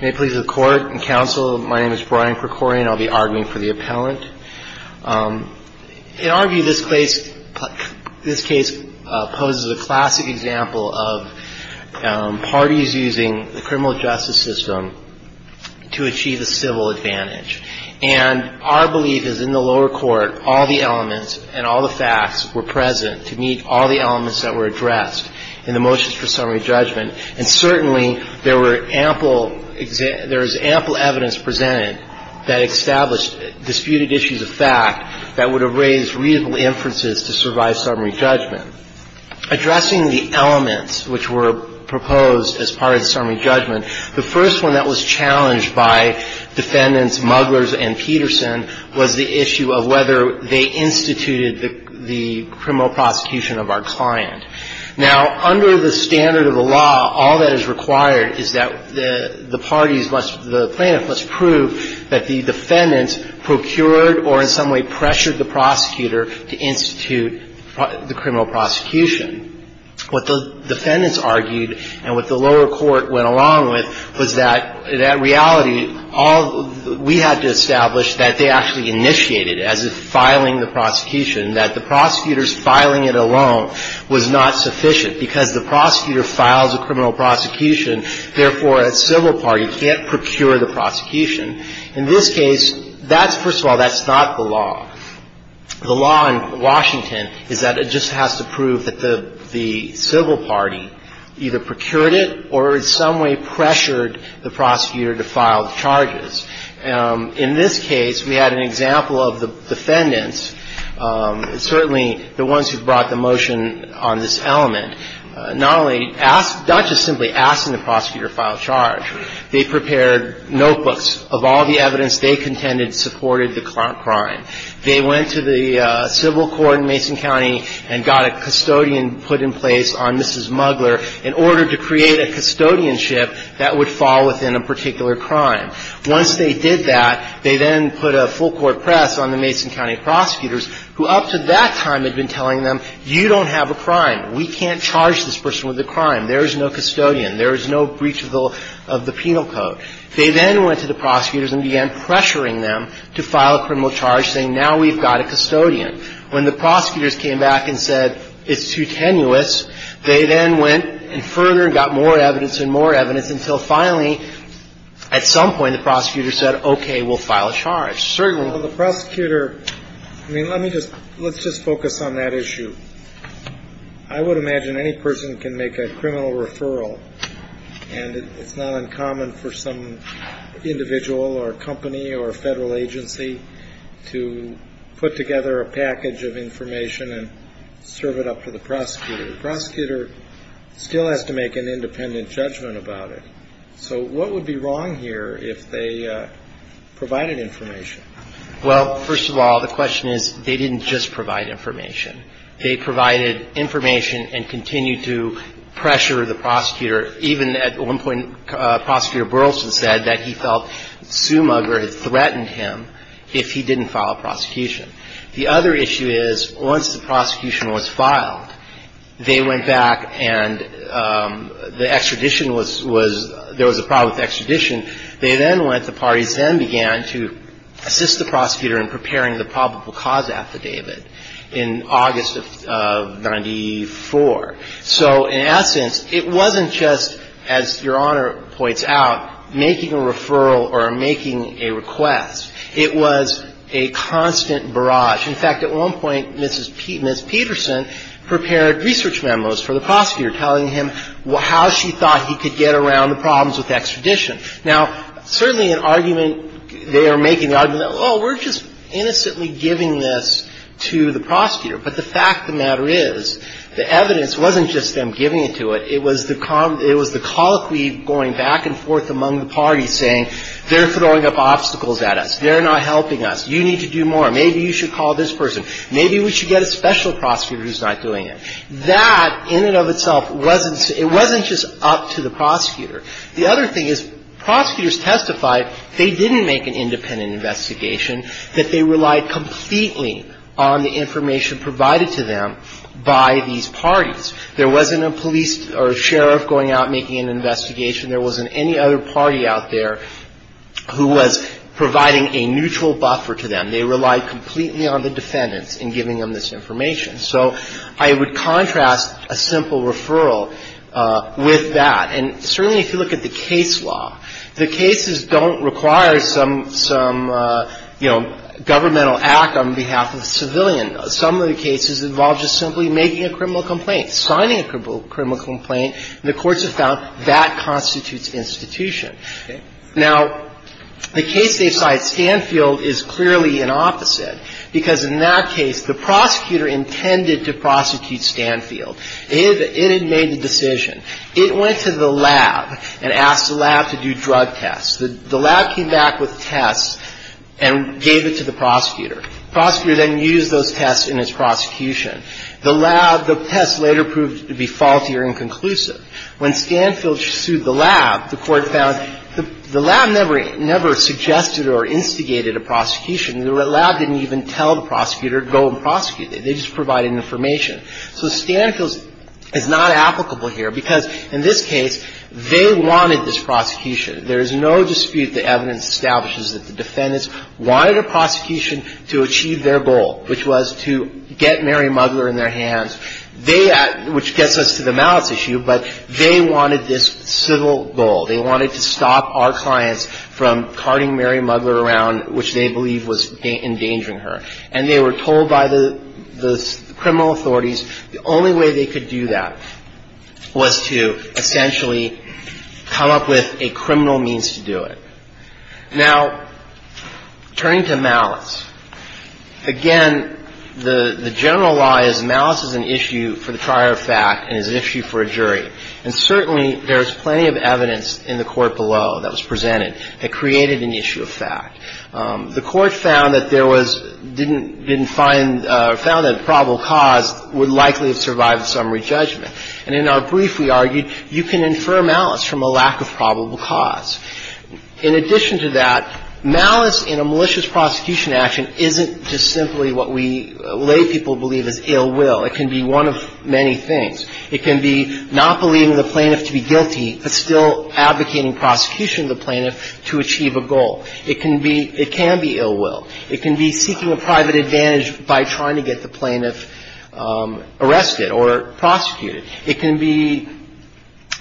May it please the Court and Counsel, my name is Brian Krikorian. I'll be arguing for the appellant. In our view, this case poses a classic example of parties using the criminal justice system to achieve a civil advantage. And our belief is in the lower court, all the elements and all the facts were present to meet all the elements that were addressed in the motions for summary judgment. And certainly there were ample, there is ample evidence presented that established disputed issues of fact that would have raised reasonable inferences to survive summary judgment. Addressing the elements which were proposed as part of the summary judgment, the first one that was challenged by defendants Muglers and Peterson was the issue of whether they instituted the criminal prosecution of our client. Now, under the standard of the law, all that is required is that the parties must, the plaintiff must prove that the defendants procured or in some way pressured the prosecutor to institute the criminal prosecution. What the defendants argued and what the lower court went along with was that, in reality, all we had to establish that they actually initiated, as in filing the prosecution, that the prosecutors filing it alone was not sufficient because the prosecutor files a criminal prosecution, therefore, a civil party can't procure the prosecution. In this case, that's, first of all, that's not the law. The law in Washington is that it just has to prove that the civil party either procured it or in some way pressured the prosecutor to file charges. In this case, we had an example of the defendants, certainly the ones who brought the motion on this element, not only asked, not just simply asking the prosecutor to file a charge. They prepared notebooks of all the evidence they contended supported the crime. They went to the civil court in Mason County and got a custodian put in place on Mrs. Mugler in order to create a custodianship that would fall within a particular crime. Once they did that, they then put a full court press on the Mason County prosecutors, who up to that time had been telling them, you don't have a crime. We can't charge this person with a crime. There is no custodian. There is no breach of the penal code. They then went to the prosecutors and began pressuring them to file a criminal charge, saying, now we've got a custodian. When the prosecutors came back and said, it's too tenuous, they then went further and got more evidence and more evidence until finally, at some point, the prosecutor said, okay, we'll file a charge. Certainly. Well, the prosecutor, I mean, let me just let's just focus on that issue. I would imagine any person can make a criminal referral. And it's not uncommon for some individual or company or federal agency to put together a package of information and serve it up to the prosecutor. The prosecutor still has to make an independent judgment about it. So what would be wrong here if they provided information? Well, first of all, the question is, they didn't just provide information. They provided information and continued to pressure the prosecutor. Even at one point, Prosecutor Burleson said that he felt Sue Mugger had threatened him if he didn't file a prosecution. The other issue is, once the prosecution was filed, they went back and the extradition was there was a problem with the extradition. They then went, the parties then began to assist the prosecutor in preparing the probable cause affidavit in August of 94. So in essence, it wasn't just, as Your Honor points out, making a referral or making a request. It was a constant barrage. In fact, at one point, Mrs. Peterson prepared research memos for the prosecutor telling him how she thought he could get around the problems with extradition. Now, certainly an argument, they are making the argument, well, we're just innocently giving this to the prosecutor. But the fact of the matter is, the evidence wasn't just them giving it to it. It was the colloquy going back and forth among the parties saying, they're throwing up obstacles at us. They're not helping us. You need to do more. Maybe you should call this person. Maybe we should get a special prosecutor who's not doing it. That in and of itself wasn't, it wasn't just up to the prosecutor. The other thing is, prosecutors testified they didn't make an independent investigation, that they relied completely on the information provided to them by these parties. There wasn't a police or a sheriff going out and making an investigation. There wasn't any other party out there who was providing a neutral buffer to them. They relied completely on the defendants in giving them this information. So I would contrast a simple referral with that. And certainly if you look at the case law, the cases don't require some, you know, governmental act on behalf of the civilian. Some of the cases involve just simply making a criminal complaint, signing a criminal complaint, and the courts have found that constitutes institution. Now, the case they cite, Stanfield, is clearly an opposite, because in that case, the prosecutor intended to prosecute Stanfield. It had made the decision. It went to the lab and asked the lab to do drug tests. The lab came back with tests and gave it to the prosecutor. The prosecutor then used those tests in his prosecution. The lab, the tests later proved to be faulty or inconclusive. When Stanfield sued the lab, the court found the lab never suggested or instigated a prosecution. The lab didn't even tell the prosecutor to go and prosecute it. They just provided information. So Stanfield is not applicable here, because in this case, they wanted this prosecution. There is no dispute that evidence establishes that the defendants wanted a prosecution to achieve their goal, which was to get Mary Muggler in their hands. They at – which gets us to the malice issue, but they wanted this civil goal. They wanted to stop our clients from carting Mary Muggler around, which they believe was endangering her. And they were told by the criminal authorities the only way they could do that was to essentially come up with a criminal means to do it. Now, turning to malice, again, the general law is malice is an issue for the trier of fact and is an issue for a jury. And certainly, there is plenty of evidence in the Court below that was presented that created an issue of fact. The Court found that there was – didn't find – found that probable cause would likely have survived summary judgment. And in our brief, we argued you can infer malice from a lack of probable cause. In addition to that, malice in a malicious prosecution action isn't just simply what we lay people believe is ill will. It can be one of many things. It can be not believing the plaintiff to be guilty, but still advocating prosecution of the plaintiff to achieve a goal. It can be – it can be ill will. It can be seeking a private advantage by trying to get the plaintiff arrested or prosecuted. It can be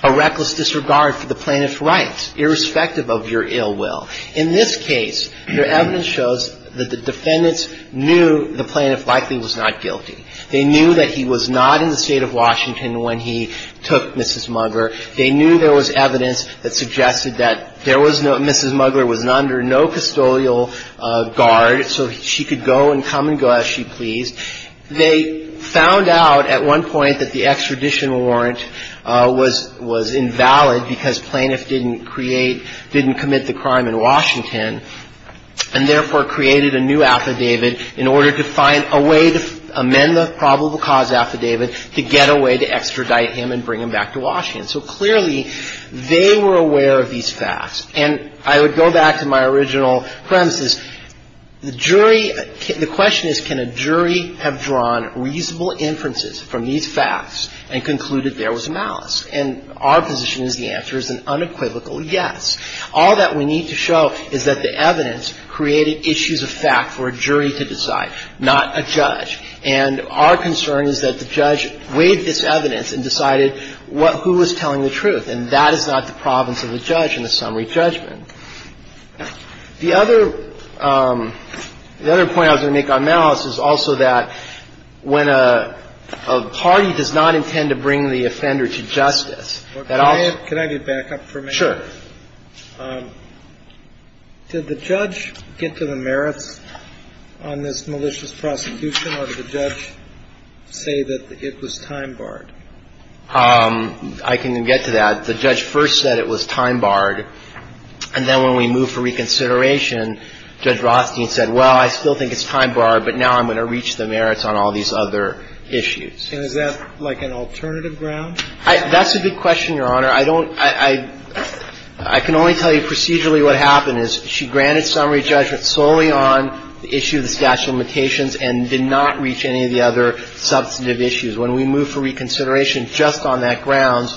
a reckless disregard for the plaintiff's rights, irrespective of your ill will. In this case, your evidence shows that the defendants knew the plaintiff likely was not guilty. They knew that he was not in the State of Washington when he took Mrs. Mugler. They knew there was evidence that suggested that there was no – Mrs. Mugler was not under no custodial guard, so she could go and come and go as she pleased. They found out at one point that the extradition warrant was – was invalid because plaintiff didn't create – didn't commit the crime in Washington, and therefore created a new affidavit in order to find a way to amend the probable cause affidavit to get a way to extradite him and bring him back to Washington. So clearly, they were aware of these facts. And I would go back to my original premises. The jury – the question is, can a jury have drawn reasonable inferences from these facts and concluded there was malice? And our position is the answer is an unequivocal yes. All that we need to show is that the evidence created issues of fact for a jury to decide, not a judge. And our concern is that the judge weighed this evidence and decided what – who was telling the truth, and that is not the province of the judge in the summary judgment. The other – the other point I was going to make on malice is also that when a party does not intend to bring the offender to justice, that also – Can I get back up for a minute? Sure. Did the judge get to the merits on this malicious prosecution, or did the judge say that it was time-barred? I can get to that. The judge first said it was time-barred, and then when we moved for reconsideration, Judge Rothstein said, well, I still think it's time-barred, but now I'm going to reach the merits on all these other issues. And is that, like, an alternative ground? That's a good question, Your Honor. I don't – I can only tell you procedurally what happened, is she granted summary judgment solely on the issue of the statute of limitations and did not reach any of the other substantive issues. When we moved for reconsideration just on that ground,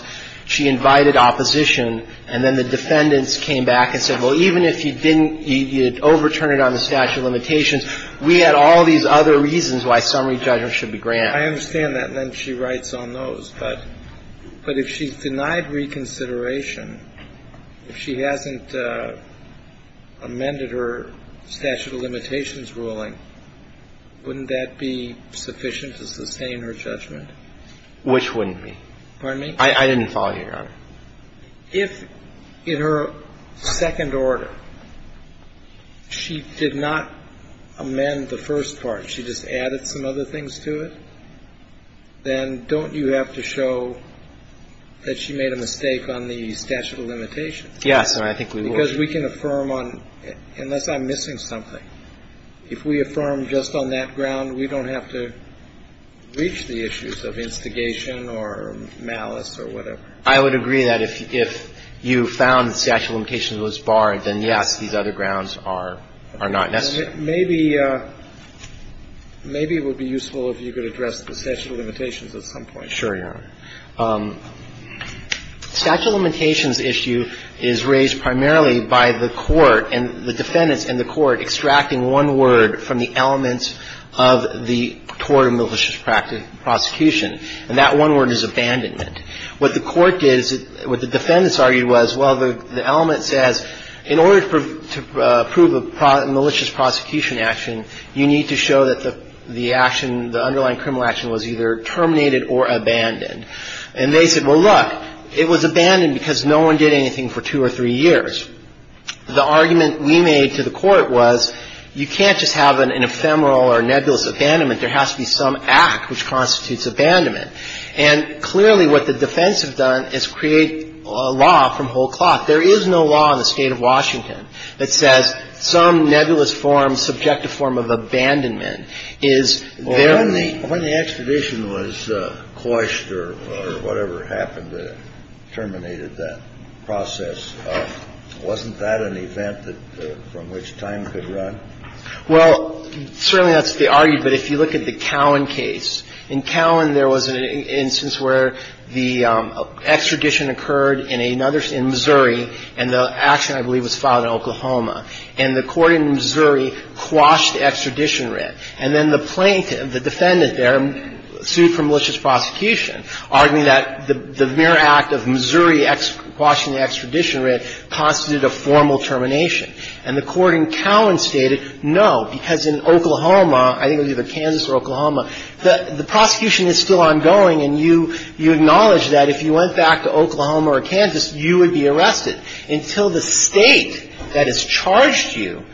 she invited opposition, and then the defendants came back and said, well, even if you didn't – you overturned it on the statute of limitations, we had all these other reasons why summary judgment should be granted. I understand that, and then she writes on those. But if she's denied reconsideration, if she hasn't amended her statute of limitations ruling, wouldn't that be sufficient to sustain her judgment? Which wouldn't be? Pardon me? I didn't follow you, Your Honor. If in her second order she did not amend the first part, she just added some other things to it, then don't you have to show that she made a mistake on the statute of limitations? Yes, Your Honor, I think we would. Because we can affirm on – unless I'm missing something. If we affirm just on that ground, we don't have to reach the issues of instigation or malice or whatever. I would agree that if you found the statute of limitations was barred, then, yes, these other grounds are not necessary. Maybe it would be useful if you could address the statute of limitations at some point. Sure, Your Honor. Statute of limitations issue is raised primarily by the court and the defendants and the court extracting one word from the elements of the tort and malicious prosecution, and that one word is abandonment. What the court did is – what the defendants argued was, well, the element says, in order to prove a malicious prosecution action, you need to show that the action, the underlying criminal action was either terminated or abandoned. And they said, well, look, it was abandoned because no one did anything for two or three years. The argument we made to the court was you can't just have an ephemeral or nebulous abandonment. There has to be some act which constitutes abandonment. And clearly what the defense have done is create a law from whole cloth. There is no law in the State of Washington that says some nebulous form, subjective form of abandonment is there. Well, when the extradition was quashed or whatever happened that terminated that process, wasn't that an event from which time could run? Well, certainly that's the argument. But if you look at the Cowan case, in Cowan there was an instance where the extradition occurred in Missouri, and the action, I believe, was filed in Oklahoma. And the court in Missouri quashed the extradition writ. And then the plaintiff, the defendant there, sued for malicious prosecution, arguing that the mere act of Missouri quashing the extradition writ constituted a formal termination. And the court in Cowan stated, no, because in Oklahoma, I think it was either Kansas or Oklahoma, the prosecution is still ongoing and you acknowledge that if you went back to Oklahoma or Kansas, you would be arrested until the State that has charged you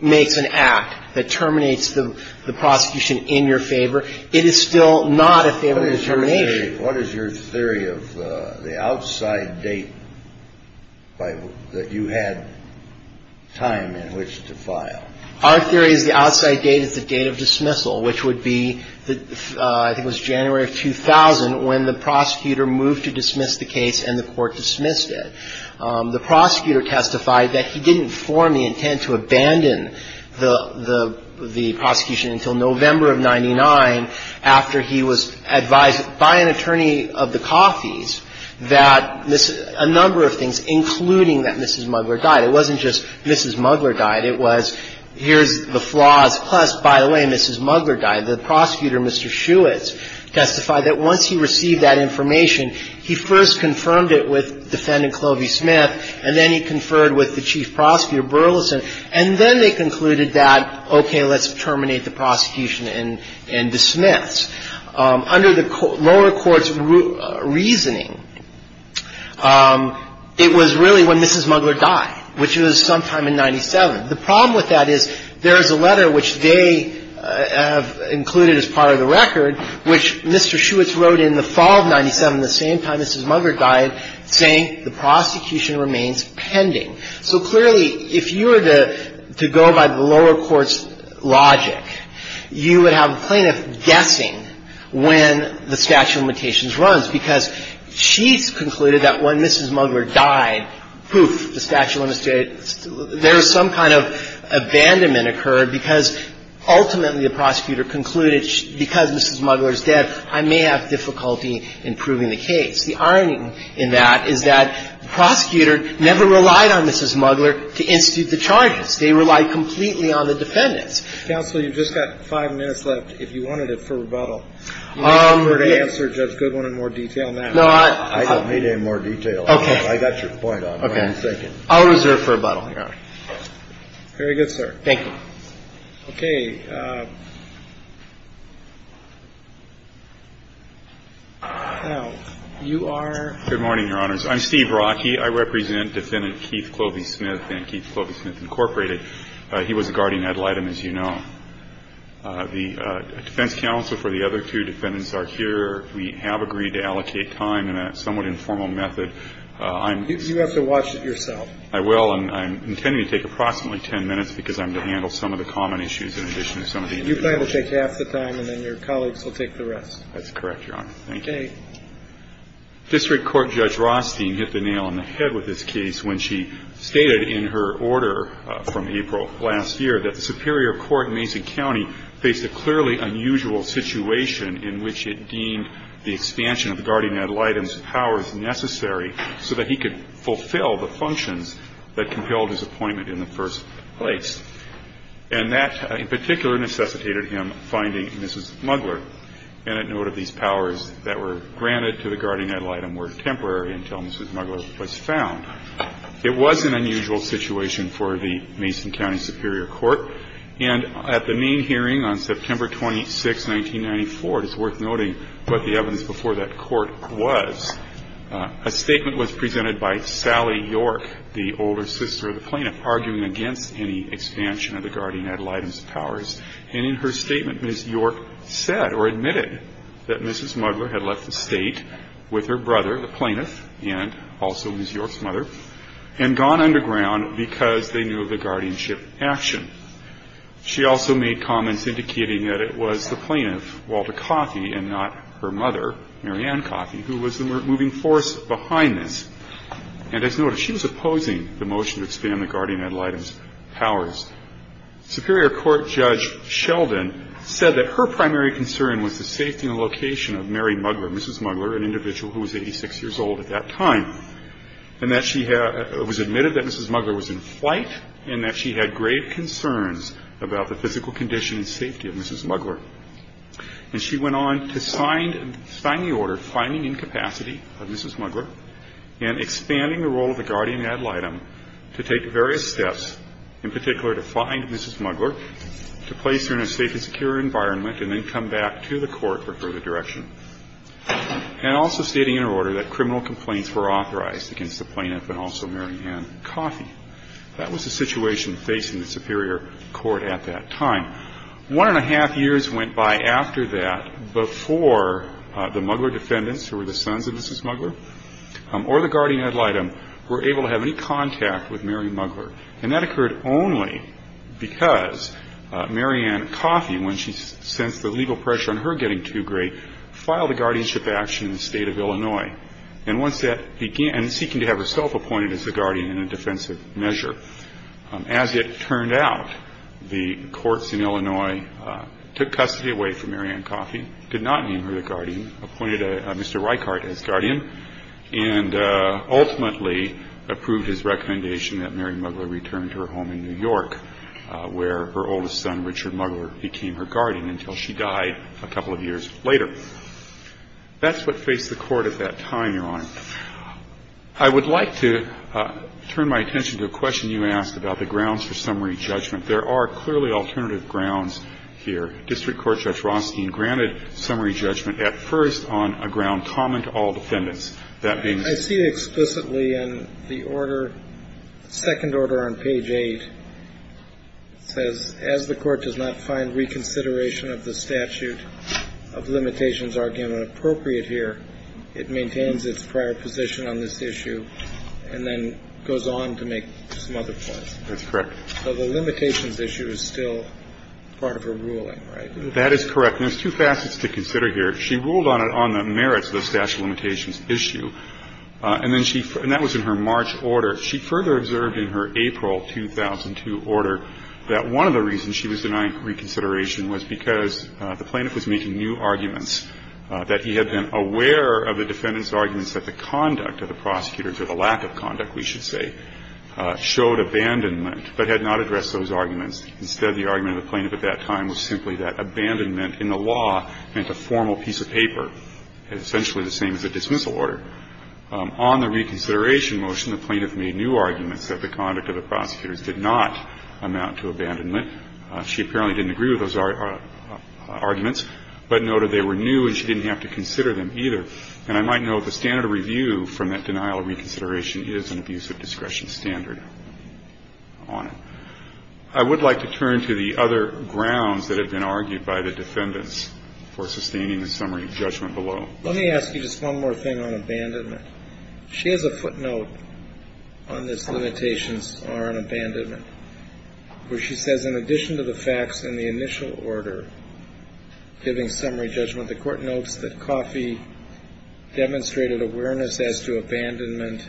makes an act that terminates the prosecution in your favor. It is still not a favorable termination. What is your theory of the outside date that you had time in which to file? Our theory is the outside date is the date of dismissal, which would be, I think it was January of 2000, when the prosecutor moved to dismiss the case and the court dismissed it. The prosecutor testified that he didn't form the intent to abandon the prosecution until November of 99, after he was advised by an attorney of the Coffey's that a number of things, including that Mrs. Mugler died. It wasn't just Mrs. Mugler died. It was, here's the flaws, plus, by the way, Mrs. Mugler died. The prosecutor, Mr. Shewitz, testified that once he received that information, he first confirmed it with Defendant Clovey Smith, and then he conferred with the Chief Prosecutor Burleson, and then they concluded that, okay, let's terminate the prosecution and dismiss. Under the lower court's reasoning, it was really when Mrs. Mugler died, which was sometime in 97. The problem with that is there is a letter which they have included as part of the same time Mrs. Mugler died saying the prosecution remains pending. So clearly, if you were to go by the lower court's logic, you would have a plaintiff guessing when the statute of limitations runs because she's concluded that when Mrs. Mugler died, poof, the statute of limitations, there is some kind of abandonment occurred because ultimately the prosecutor concluded because Mrs. Mugler is dead, I may have difficulty in proving the case. The irony in that is that the prosecutor never relied on Mrs. Mugler to institute the charges. They relied completely on the defendants. Kennedy. Counsel, you've just got five minutes left. If you wanted it for rebuttal, you may prefer to answer Judge Goodwin in more detail than that. I don't need any more detail. Okay. I got your point on it. Okay. I'll reserve for rebuttal. All right. Very good, sir. Thank you. Okay. Now, you are? Good morning, Your Honors. I'm Steve Rockey. I represent Defendant Keith Clovey Smith and Keith Clovey Smith, Incorporated. He was a guardian ad litem, as you know. The defense counsel for the other two defendants are here. We have agreed to allocate time in a somewhat informal method. You have to watch it yourself. I will. And I'm intending to take approximately ten minutes because I'm going to handle some of the common issues in addition to some of the individual. You plan to take half the time and then your colleagues will take the rest. That's correct, Your Honor. Thank you. Okay. District Court Judge Rothstein hit the nail on the head with this case when she stated in her order from April last year that the Superior Court in Mason County faced a clearly unusual situation in which it deemed the expansion of the guardian ad litem's powers necessary so that he could fulfill the functions that compelled his appointment in the first place. And that in particular necessitated him finding Mrs. Muggler. And a note of these powers that were granted to the guardian ad litem were temporary until Mrs. Muggler was found. It was an unusual situation for the Mason County Superior Court. And at the main hearing on September 26, 1994, it is worth noting what the evidence before that court was, a statement was presented by Sally York, the older sister of the plaintiff, arguing against any expansion of the guardian ad litem's powers. And in her statement, Ms. York said or admitted that Mrs. Muggler had left the state with her brother, the plaintiff, and also Ms. York's mother, and gone underground because they knew of the guardianship action. She also made comments indicating that it was the plaintiff, Walter Coffey, and not her mother, Mary Ann Coffey, who was the moving force behind this. And as noted, she was opposing the motion to expand the guardian ad litem's powers. Superior Court Judge Sheldon said that her primary concern was the safety and location of Mary Muggler, Mrs. Muggler, an individual who was 86 years old at that time, and that she was admitted that Mrs. Muggler was in flight and that she had grave concerns about the physical condition and safety of Mrs. Muggler. And she went on to sign the order finding incapacity of Mrs. Muggler and expanding the role of the guardian ad litem to take various steps, in particular to find Mrs. Muggler, to place her in a safe and secure environment, and then come back to the court for further direction. And also stating in her order that criminal complaints were authorized against the plaintiff and also Mary Ann Coffey. That was the situation facing the Superior Court at that time. One and a half years went by after that before the Muggler defendants, who were the sons of Mrs. Muggler, or the guardian ad litem, were able to have any contact with Mary Muggler. And that occurred only because Mary Ann Coffey, when she sensed the legal pressure on her getting too great, filed a guardianship action in the state of Illinois. And once that began, seeking to have herself appointed as the guardian in a defensive measure. As it turned out, the courts in Illinois took custody away from Mary Ann Coffey, did not name her the guardian, appointed Mr. Reichardt as guardian, and ultimately approved his recommendation that Mary Muggler return to her home in New York, where her oldest son, Richard Muggler, became her guardian until she died a couple of years later. That's what faced the court at that time, Your Honor. I would like to turn my attention to a question you asked about the grounds for summary judgment. There are clearly alternative grounds here. District Court Judge Rothstein granted summary judgment at first on a ground common to all defendants. I see explicitly in the order, second order on page 8, says as the court does not find reconsideration of the statute of limitations argument appropriate here, it maintains its prior position on this issue and then goes on to make some other points. That's correct. So the limitations issue is still part of her ruling, right? That is correct. And there's two facets to consider here. She ruled on it on the merits of the statute of limitations issue, and that was in her March order. She further observed in her April 2002 order that one of the reasons she was denying reconsideration was because the plaintiff was making new arguments that he had been aware of the defendant's arguments that the conduct of the prosecutors or the lack of conduct, we should say, showed abandonment, but had not addressed those arguments. Instead, the argument of the plaintiff at that time was simply that abandonment in the law meant a formal piece of paper, essentially the same as a dismissal order. On the reconsideration motion, the plaintiff made new arguments that the conduct of the prosecutors did not amount to abandonment. She apparently didn't agree with those arguments, but noted they were new and she didn't have to consider them either. And I might note the standard of review from that denial of reconsideration is an abuse of discretion standard on it. I would like to turn to the other grounds that have been argued by the defendants for sustaining the summary judgment below. Let me ask you just one more thing on abandonment. She has a footnote on this limitations on abandonment where she says, in addition to the facts in the initial order giving summary judgment, the court notes that Coffey demonstrated awareness as to abandonment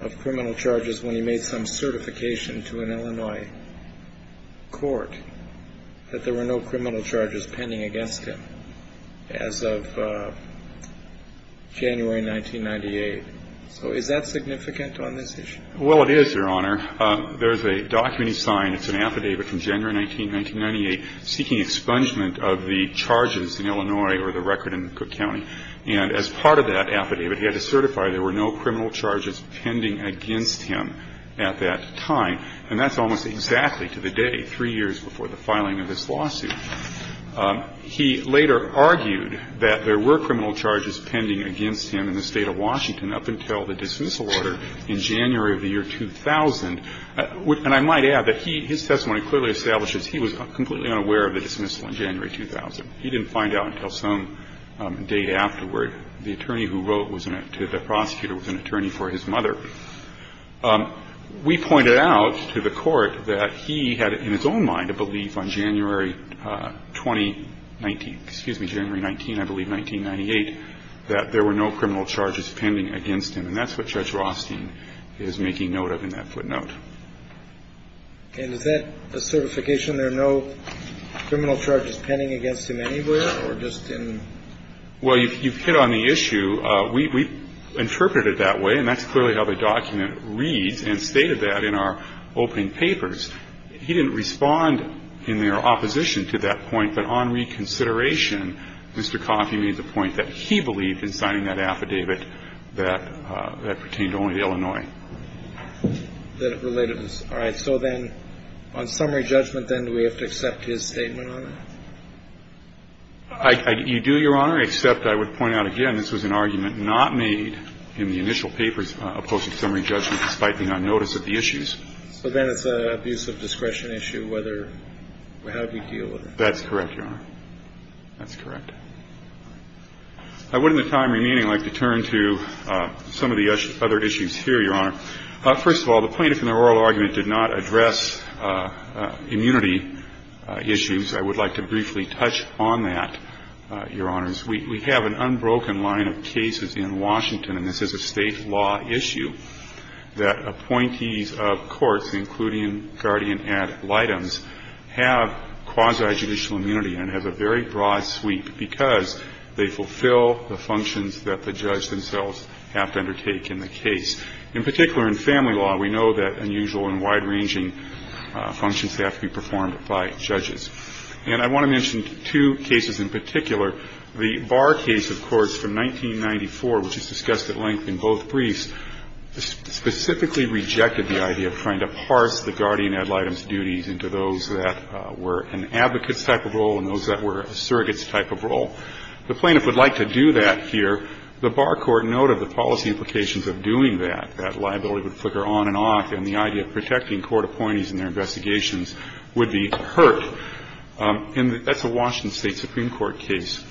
of criminal charges when he made some certification to an Illinois court, that there were no criminal charges pending against him as of January 1998. So is that significant on this issue? Well, it is, Your Honor. There's a document he signed. It's an affidavit from January 1998 seeking expungement of the charges in Illinois or the record in Cook County. And as part of that affidavit, he had to certify there were no criminal charges pending against him at that time. And that's almost exactly to the day, three years before the filing of this lawsuit. He later argued that there were criminal charges pending against him in the State of Washington up until the dismissal order in January of the year 2000. And I might add that he, his testimony clearly establishes he was completely unaware of the dismissal in January 2000. He didn't find out until some date afterward. The attorney who wrote to the prosecutor was an attorney for his mother. We pointed out to the court that he had, in his own mind, a belief on January 2019, excuse me, January 19, I believe, 1998, that there were no criminal charges pending against him. And that's what Judge Rothstein is making note of in that footnote. And is that a certification there are no criminal charges pending against him anywhere or just in? Well, you've hit on the issue. We interpreted it that way, and that's clearly how the document reads and stated that in our opening papers. He didn't respond in their opposition to that point. But on reconsideration, Mr. Coffey made the point that he believed in signing that affidavit that pertained only to Illinois. All right. So then on summary judgment, then, do we have to accept his statement on it? You do, Your Honor, except I would point out, again, this was an argument not made in the initial papers of post-summary judgment despite the non-notice of the issues. So then it's an abuse of discretion issue whether or how do you deal with it? That's correct, Your Honor. That's correct. I would, in the time remaining, like to turn to some of the other issues here, Your Honor. First of all, the plaintiff in the oral argument did not address immunity issues. I would like to briefly touch on that, Your Honors. We have an unbroken line of cases in Washington, and this is a state law issue, that appointees of courts, including guardian ad litems, have quasi-judicial immunity and have a very broad sweep because they fulfill the functions that the judge themselves have to undertake in the case. In particular, in family law, we know that unusual and wide-ranging functions have to be performed by judges. And I want to mention two cases in particular. The Barr case, of course, from 1994, which is discussed at length in both briefs, specifically rejected the idea of trying to parse the guardian ad litems duties into those that were an advocate's type of role and those that were a surrogate's type of role. The plaintiff would like to do that here. The Barr court noted the policy implications of doing that, that liability would the idea of protecting court appointees in their investigations would be hurt. And that's a Washington State Supreme Court case.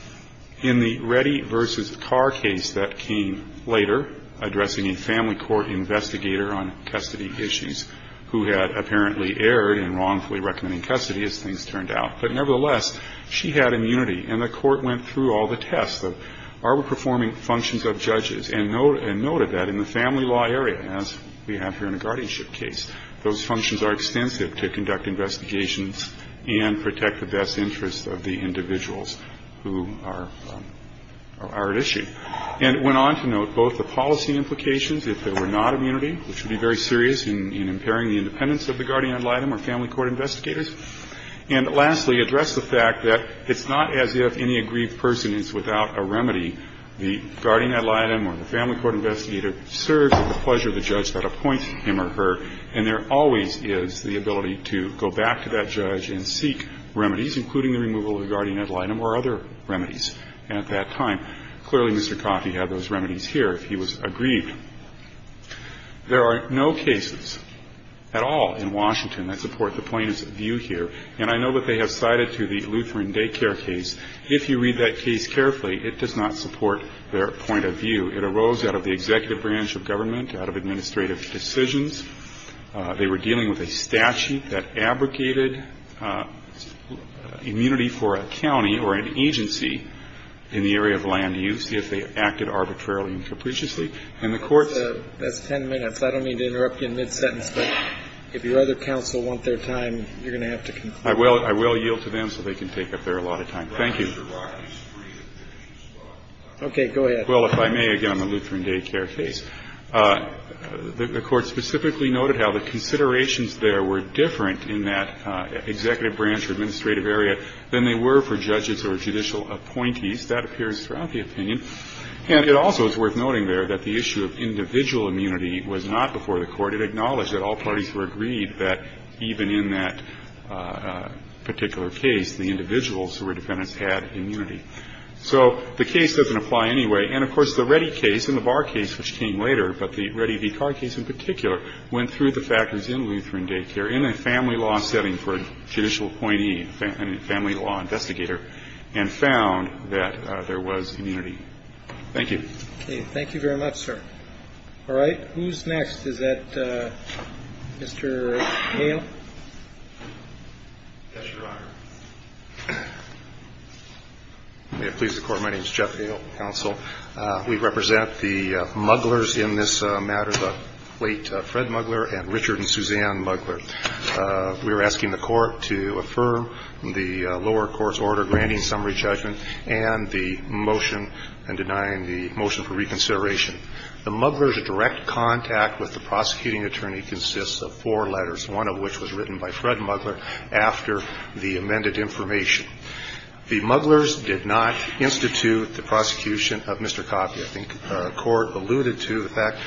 In the Reddy v. Carr case that came later, addressing a family court investigator on custody issues, who had apparently erred in wrongfully recommending custody as things turned out. But nevertheless, she had immunity. And the court went through all the tests of are we performing functions of judges and noted that in the family law area, as we have here in the guardianship case, those functions are extensive to conduct investigations and protect the best interests of the individuals who are at issue. And it went on to note both the policy implications, if there were not immunity, which would be very serious in impairing the independence of the guardian ad litem or family court investigators. And lastly, addressed the fact that it's not as if any aggrieved person is without a family court investigator serves at the pleasure of the judge that appoints him or her. And there always is the ability to go back to that judge and seek remedies, including the removal of the guardian ad litem or other remedies at that time. Clearly, Mr. Coffey had those remedies here if he was aggrieved. There are no cases at all in Washington that support the plaintiff's view here. And I know that they have cited to the Lutheran daycare case. If you read that case carefully, it does not support their point of view. It arose out of the executive branch of government, out of administrative decisions. They were dealing with a statute that abrogated immunity for a county or an agency in the area of land use if they acted arbitrarily and capriciously. And the courts ---- That's ten minutes. I don't mean to interrupt you in mid-sentence, but if your other counsel want their time, you're going to have to conclude. I will yield to them so they can take up their allotted time. Thank you. Okay. Go ahead. Well, if I may, again, on the Lutheran daycare case, the Court specifically noted how the considerations there were different in that executive branch or administrative area than they were for judges or judicial appointees. That appears throughout the opinion. And it also is worth noting there that the issue of individual immunity was not before the Court. It acknowledged that all parties were agreed that even in that particular case, the individuals who were defendants had immunity. So the case doesn't apply anyway. And, of course, the Reddy case and the Barr case, which came later, but the Reddy v. Carr case in particular, went through the factors in Lutheran daycare in a family law setting for a judicial appointee, a family law investigator, and found that there was immunity. Thank you. Okay. Thank you very much, sir. All right. Who's next? Is that Mr. Hale? Yes, Your Honor. May it please the Court, my name is Jeff Hale, counsel. We represent the mugglers in this matter, the late Fred Muggler and Richard and Suzanne Muggler. We are asking the Court to affirm the lower court's order granting summary judgment and the motion and denying the motion for reconsideration. The Muggler's direct contact with the prosecuting attorney consists of four letters, one of which was written by Fred Muggler after the amended information. The Mugglers did not institute the prosecution of Mr. Coppi. I think the Court alluded to the fact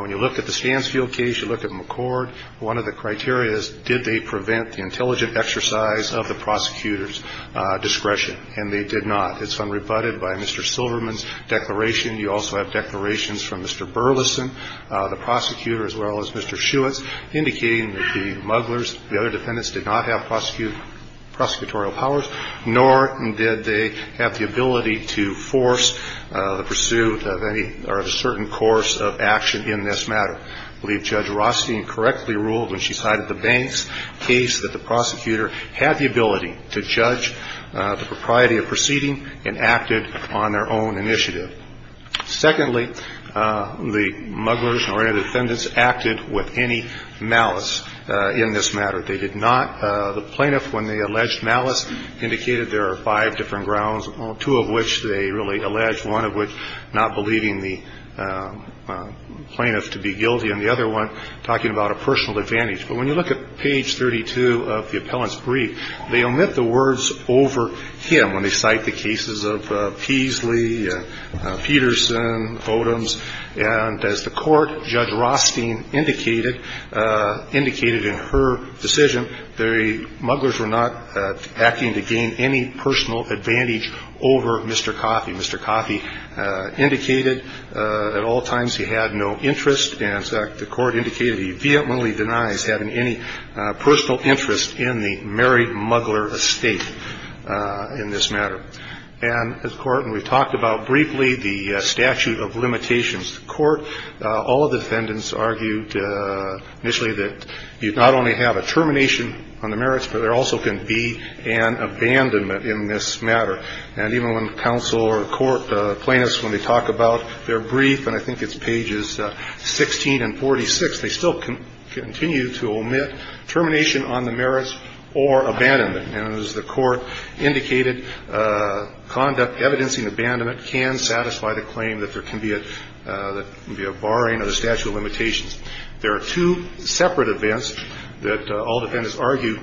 when you look at the Stansfield case, you look at McCord, one of the criteria is did they prevent the intelligent exercise of the prosecutor's discretion, and they did not. It's unrebutted by Mr. Silverman's declaration. You also have declarations from Mr. Burleson, the prosecutor, as well as Mr. Burleson. The Mugglers did not have prosecutorial powers, nor did they have the ability to force the pursuit of any or a certain course of action in this matter. I believe Judge Rostein correctly ruled when she sided the Banks case that the prosecutor had the ability to judge the propriety of proceeding and acted on their own initiative. Secondly, the Mugglers or any of the defendants acted with any authority. They did not have any malice in this matter. They did not. The plaintiff, when they alleged malice, indicated there are five different grounds, two of which they really alleged, one of which not believing the plaintiff to be guilty and the other one talking about a personal advantage. But when you look at page 32 of the appellant's brief, they omit the words over him when they cite the cases of Peasley, Peterson, Odoms, and as the Court, Judge Rostein indicated, indicated in her decision the Mugglers were not acting to gain any personal advantage over Mr. Coffey. Mr. Coffey indicated at all times he had no interest and the Court indicated he vehemently denies having any personal interest in the married Muggler estate in this matter. And the Court, and we've talked about briefly the statute of limitations. The Court, all the defendants argued initially that you not only have a termination on the merits, but there also can be an abandonment in this matter. And even when counsel or court plaintiffs, when they talk about their brief, and I think it's pages 16 and 46, they still continue to omit termination on the merits or abandonment. And as the Court indicated, conduct evidencing abandonment can satisfy the claim that there can be a barring of the statute of limitations. There are two separate events that all defendants argue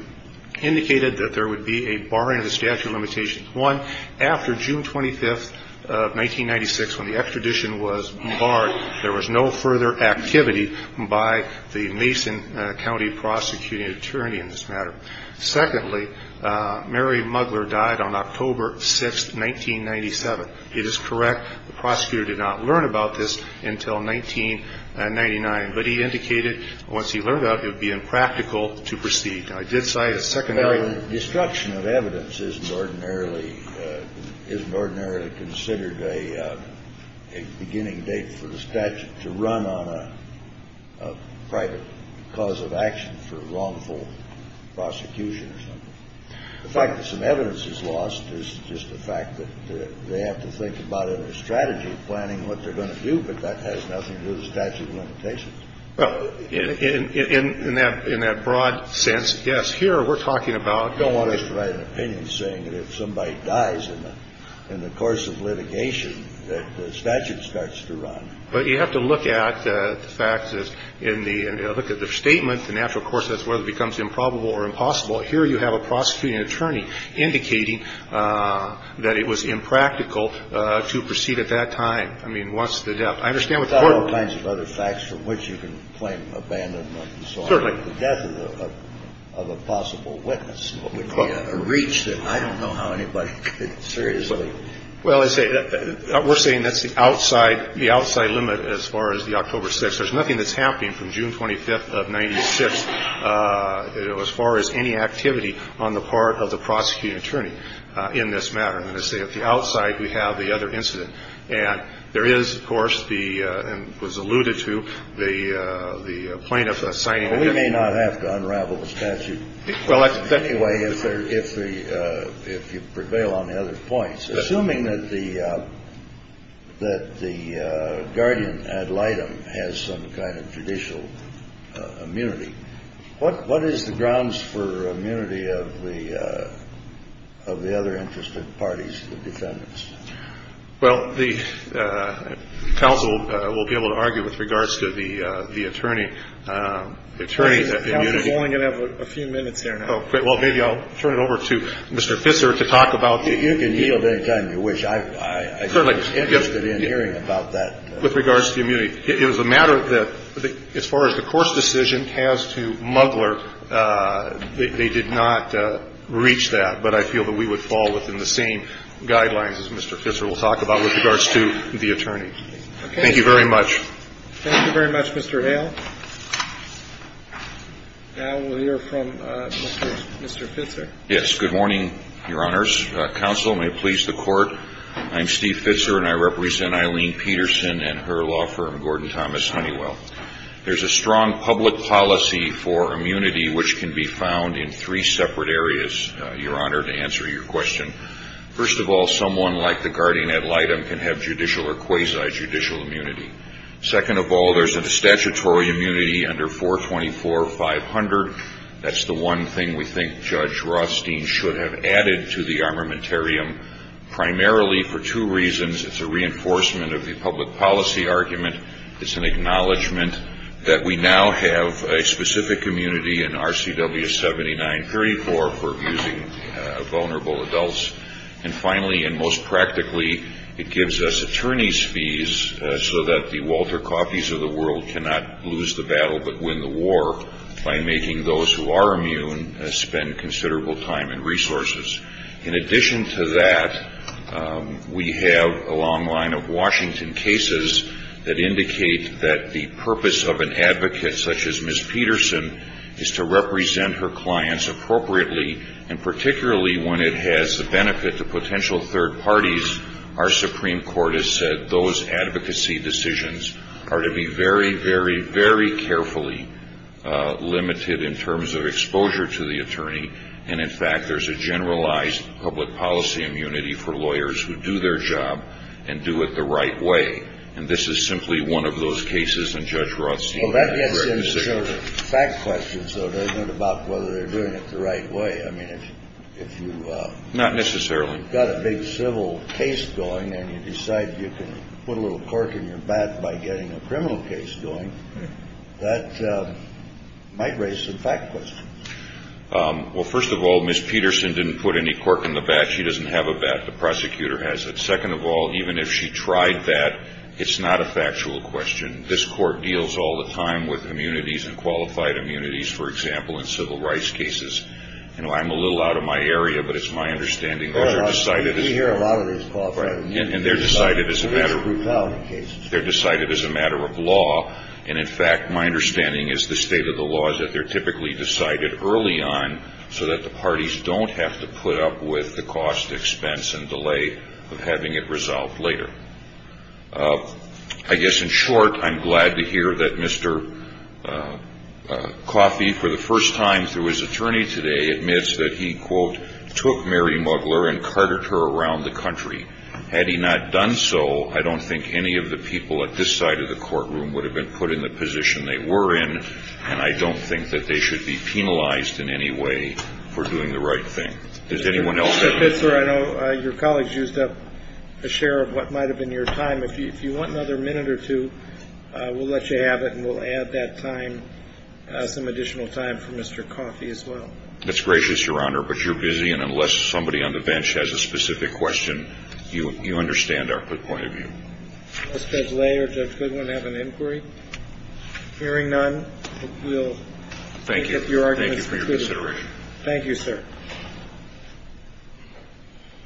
indicated that there would be a barring of the statute of limitations. One, after June 25, 1996, when the extradition was barred, there was no further activity by the Mason County Prosecuting Attorney in this matter. Secondly, married Muggler died on October 6, 1997. It is correct. The prosecutor did not learn about this until 1999. But he indicated once he learned about it, it would be impractical to proceed. Now, I did cite a secondary. The destruction of evidence isn't ordinarily considered a beginning date for the statute to run on a private cause of action for wrongful prosecution or something. The fact that some evidence is lost is just the fact that they have to think about it in a strategy, planning what they're going to do. But that has nothing to do with the statute of limitations. Well, in that broad sense, yes, here we're talking about the law. You don't want us to write an opinion saying that if somebody dies in the course of litigation that the statute starts to run. But you have to look at the fact that in the statement, the natural course of this, whether it becomes improbable or impossible. Here you have a prosecuting attorney indicating that it was impractical to proceed at that time. I mean, what's the depth? I understand what the court did. There are all kinds of other facts from which you can claim abandonment and so on. Certainly. The death of a possible witness would be a reach that I don't know how anybody could seriously. Well, we're saying that's the outside limit as far as the October 6th. There's nothing that's happening from June 25th of 96, as far as any activity on the part of the prosecuting attorney in this matter. Let's say at the outside, we have the other incident. And there is, of course, the and was alluded to the the plaintiff signing. We may not have to unravel the statute. Well, anyway, if there if the if you prevail on the other points, assuming that the that the guardian ad litem has some kind of judicial immunity. What what is the grounds for immunity of the of the other interested parties? The defendants? Well, the council will be able to argue with regards to the attorney attorney. I'm going to have a few minutes here. Well, maybe I'll turn it over to Mr. Fisser to talk about. You can yield any time you wish. I certainly interested in hearing about that. With regards to the immunity. It was a matter that as far as the court's decision has to muggler, they did not reach that. But I feel that we would fall within the same guidelines as Mr. Fisser will talk about with regards to the attorney. Thank you very much. Thank you very much, Mr. Hale. Now we'll hear from Mr. Fisser. Yes. Good morning, Your Honors. Counsel, may it please the court. I'm Steve Fisser, and I represent Eileen Peterson and her law firm, Gordon Thomas Honeywell. There's a strong public policy for immunity, which can be found in three separate areas, Your Honor, to answer your question. First of all, someone like the guardian ad litem can have judicial or quasi judicial immunity. Second of all, there's a statutory immunity under 424-500. That's the one thing we think Judge Rothstein should have added to the armamentarium, primarily for two reasons. It's a reinforcement of the public policy argument. It's an acknowledgment that we now have a specific immunity in RCW 7934 for abusing vulnerable adults. And finally, and most practically, it gives us attorney's fees so that the Walter Coffees of the world cannot lose the battle but win the war by making those who are immune spend considerable time and resources. In addition to that, we have a long line of Washington cases that indicate that the purpose of an advocate such as Ms. Peterson is to represent her clients appropriately, and particularly when it has the benefit to potential third parties. Our Supreme Court has said those advocacy decisions are to be very, very, very carefully limited in terms of exposure to the attorney. And in fact, there's a generalized public policy immunity for lawyers who do their job and do it the right way. And this is simply one of those cases. And Judge Rothstein had a great decision. Well, that gets into sort of fact questions, though, doesn't it, about whether they're doing it the right way. I mean, if you got a big civil case going and you decide you can put a little cork in your bat by getting a criminal case going, that might raise some fact questions. Well, first of all, Ms. Peterson didn't put any cork in the bat. She doesn't have a bat. The prosecutor has it. Second of all, even if she tried that, it's not a factual question. This court deals all the time with immunities and qualified immunities, for example, in civil rights cases. You know, I'm a little out of my area, but it's my understanding those are decided as a matter of law. And in fact, my understanding is the state of the law is that they're typically decided early on so that the parties don't have to put up with the cost, expense, and delay of having it resolved later. I guess in short, I'm glad to hear that Mr. Coffey, for the first time through his attorney today, admits that he, quote, took Mary Mugler and carted her around the country. Had he not done so, I don't think any of the people at this side of the courtroom would have been put in the position they were in, and I don't think that they should be penalized in any way for doing the right thing. Does anyone else have anything? Mr. Fitzgerald, I know your colleagues used up a share of what might have been your time. If you want another minute or two, we'll let you have it, and we'll add that time, some additional time for Mr. Coffey as well. That's gracious, Your Honor. But you're busy, and unless somebody on the bench has a specific question, you understand our point of view. Does Judge Lay or Judge Goodwin have an inquiry? Hearing none, we'll take up your arguments. Thank you. Thank you for your consideration. Thank you, sir.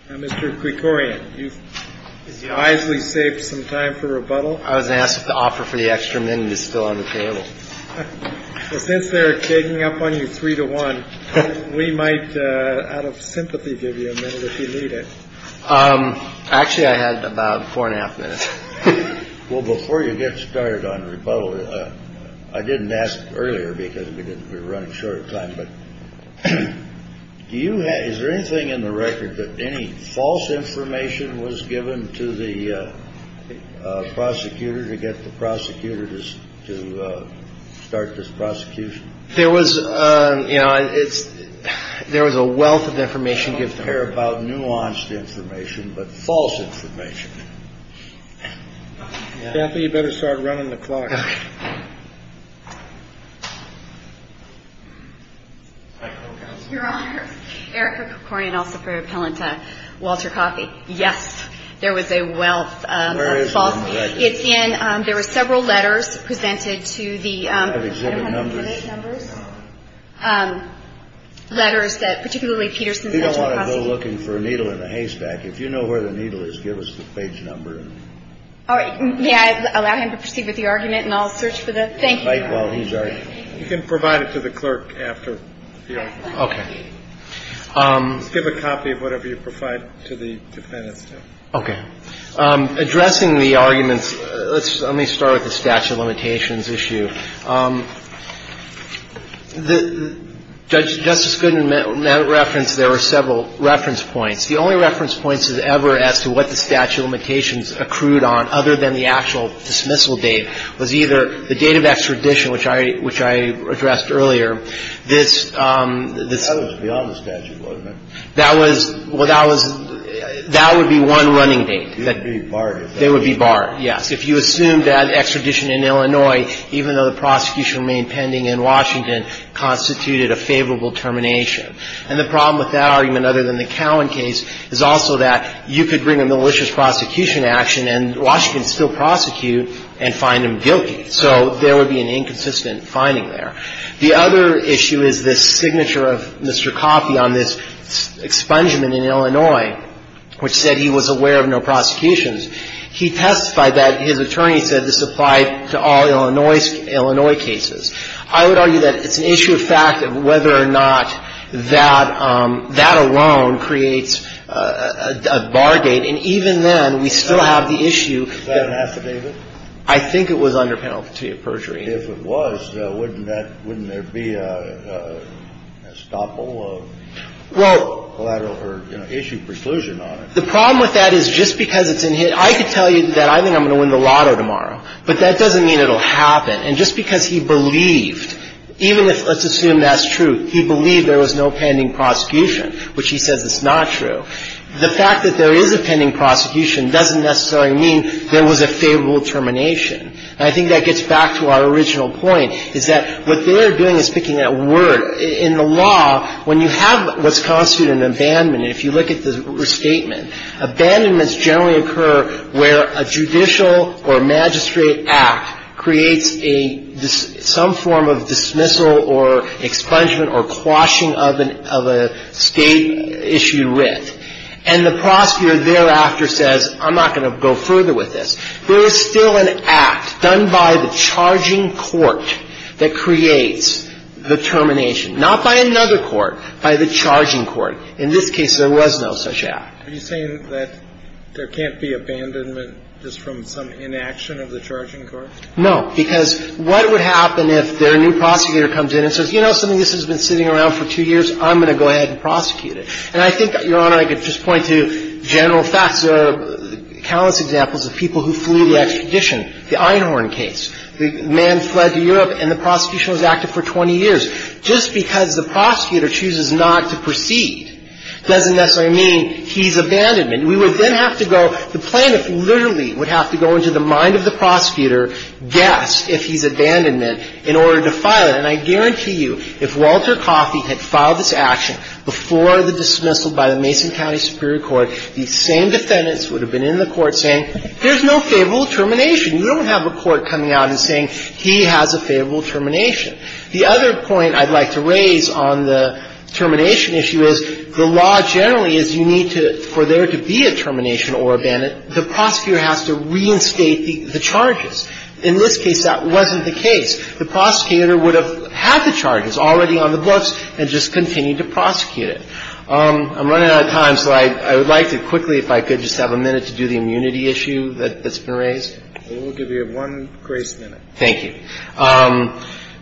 Now, Mr. Krikorian, you've wisely saved some time for rebuttal. I was asked to offer for the extra minute. It's still on the table. Since they're digging up on you three to one, we might out of sympathy give you a minute if you need it. Actually, I had about four and a half minutes. Well, before you get started on rebuttal, I didn't ask earlier because we didn't we were running short of time. But do you. Is there anything in the record that any false information was given to the prosecutor to get the prosecutor to start this prosecution? There was you know, it's there was a wealth of information. Nuanced information, but false information. You better start running the clock. Your Honor, Eric Krikorian, also very appellant to Walter Coffey. Yes. There was a wealth. It's in. There were several letters presented to the exhibit numbers. Letters that particularly Peterson. You don't want to go looking for a needle in a haystack. If you know where the needle is, give us the page number. All right. May I allow him to proceed with the argument and I'll search for the. Thank you. You can provide it to the clerk after. OK. Give a copy of whatever you provide to the defendant. OK. Addressing the arguments. Let's let me start with the statute of limitations issue. The judge just couldn't reference. There were several reference points. The only reference points ever as to what the statute of limitations accrued on other than the actual dismissal date was either the date of extradition, which I which I addressed earlier. This is beyond the statute. That was what I was. That would be one running date that they would be barred. Yes. If you assume that extradition in Illinois, even though the prosecution remained pending in Washington, constituted a favorable termination. And the problem with that argument, other than the Cowan case, is also that you could bring a malicious prosecution action and Washington still prosecute and find him guilty. So there would be an inconsistent finding there. The other issue is this signature of Mr. Coffey on this expungement in Illinois, which said he was aware of no prosecutions. He testified that his attorney said this applied to all Illinois cases. I would argue that it's an issue of fact of whether or not that that alone creates a bar gate. And even then, we still have the issue. Is that an affidavit? I think it was under penalty of perjury. If it was, wouldn't that — wouldn't there be a stopple of collateral or issue preclusion on it? Well, the problem with that is just because it's in — I could tell you that I think I'm going to win the lotto tomorrow. But that doesn't mean it will happen. And just because he believed, even if let's assume that's true, he believed there was no pending prosecution, which he says is not true, the fact that there is a pending prosecution doesn't necessarily mean there was a favorable termination. And I think that gets back to our original point, is that what they're doing is picking at word. In the law, when you have what's constituted an abandonment, if you look at the restatement, abandonments generally occur where a judicial or magistrate act creates a — some form of dismissal or expungement or quashing of an — of a State-issued writ. And the prosecutor thereafter says, I'm not going to go further with this. There is still an act done by the charging court that creates the termination, not by another court, by the charging court. In this case, there was no such act. Are you saying that there can't be abandonment just from some inaction of the charging court? No, because what would happen if their new prosecutor comes in and says, you know something? This has been sitting around for two years. I'm going to go ahead and prosecute it. And I think, Your Honor, I could just point to general facts. There are countless examples of people who flew the expedition, the Einhorn case. The man fled to Europe, and the prosecution was active for 20 years. Just because the prosecutor chooses not to proceed doesn't necessarily mean he's abandonment. We would then have to go — the plaintiff literally would have to go into the mind of the prosecutor, guess if he's abandonment, in order to file it. And I think, Your Honor, I could just point to general facts. And I think, Your Honor, I could just point to general facts. Before the dismissal by the Mason County Superior Court, the same defendants would have been in the court saying, there's no favorable termination. You don't have a court coming out and saying, he has a favorable termination. The other point I'd like to raise on the termination issue is the law generally is you need to — for there to be a termination or abandonment, the prosecutor has to reinstate the charges. In this case, that wasn't the case. The prosecutor would have had the charges already on the books and just continued to prosecute it. I'm running out of time, so I would like to quickly, if I could, just have a minute to do the immunity issue that's been raised. We'll give you one grace minute. Thank you.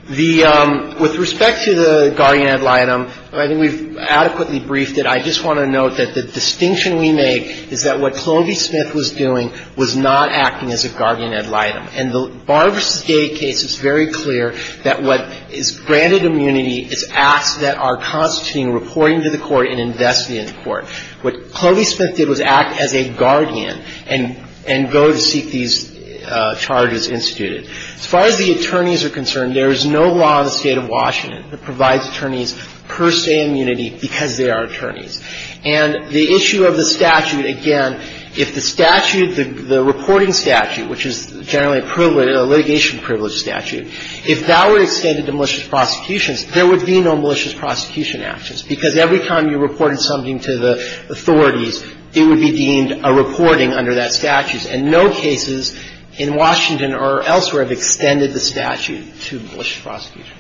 The — with respect to the guardian ad litem, I think we've adequately briefed it. I just want to note that the distinction we make is that what Clovey Smith was doing was not acting as a guardian ad litem. In the Barr v. Gage case, it's very clear that what is granted immunity is acts that are constituting reporting to the court and investment in the court. What Clovey Smith did was act as a guardian and go to seek these charges instituted. As far as the attorneys are concerned, there is no law in the State of Washington that provides attorneys per se immunity because they are attorneys. And the issue of the statute, again, if the statute, the reporting statute, which is generally a privilege, a litigation privilege statute, if that were extended to malicious prosecutions, there would be no malicious prosecution actions, because every time you reported something to the authorities, it would be deemed a reporting under that statute, and no cases in Washington or elsewhere have extended the statute to malicious prosecutions.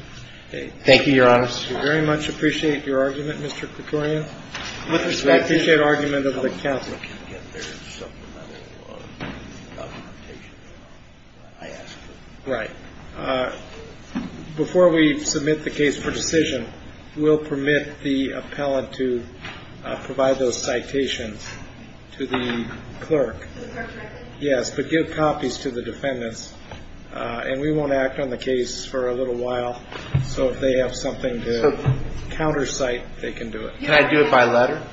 Thank you, Your Honor. Thank you very much. I appreciate your argument, Mr. Krikorian. I appreciate the argument of the counsel. If the public can get their supplemental documentation, I ask for it. Right. Before we submit the case for decision, we'll permit the appellant to provide those citations to the clerk. The clerk might get them. Yes, but give copies to the defendants. And we won't act on the case for a little while. So if they have something to countersite, they can do it. Can I do it by letter?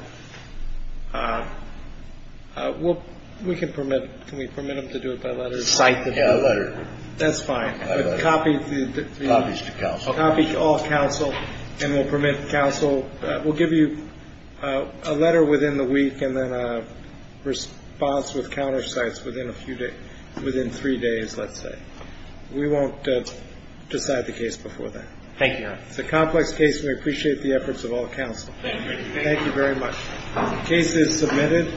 Well, we can permit them to do it by letter. Cite the letter. That's fine. Copies to counsel. Copies to all counsel, and we'll permit counsel. We'll give you a letter within the week and then a response with countersites within three days, let's say. We won't decide the case before then. Thank you, Your Honor. It's a complex case, and we appreciate the efforts of all counsel. Thank you. Thank you very much. The case is submitted.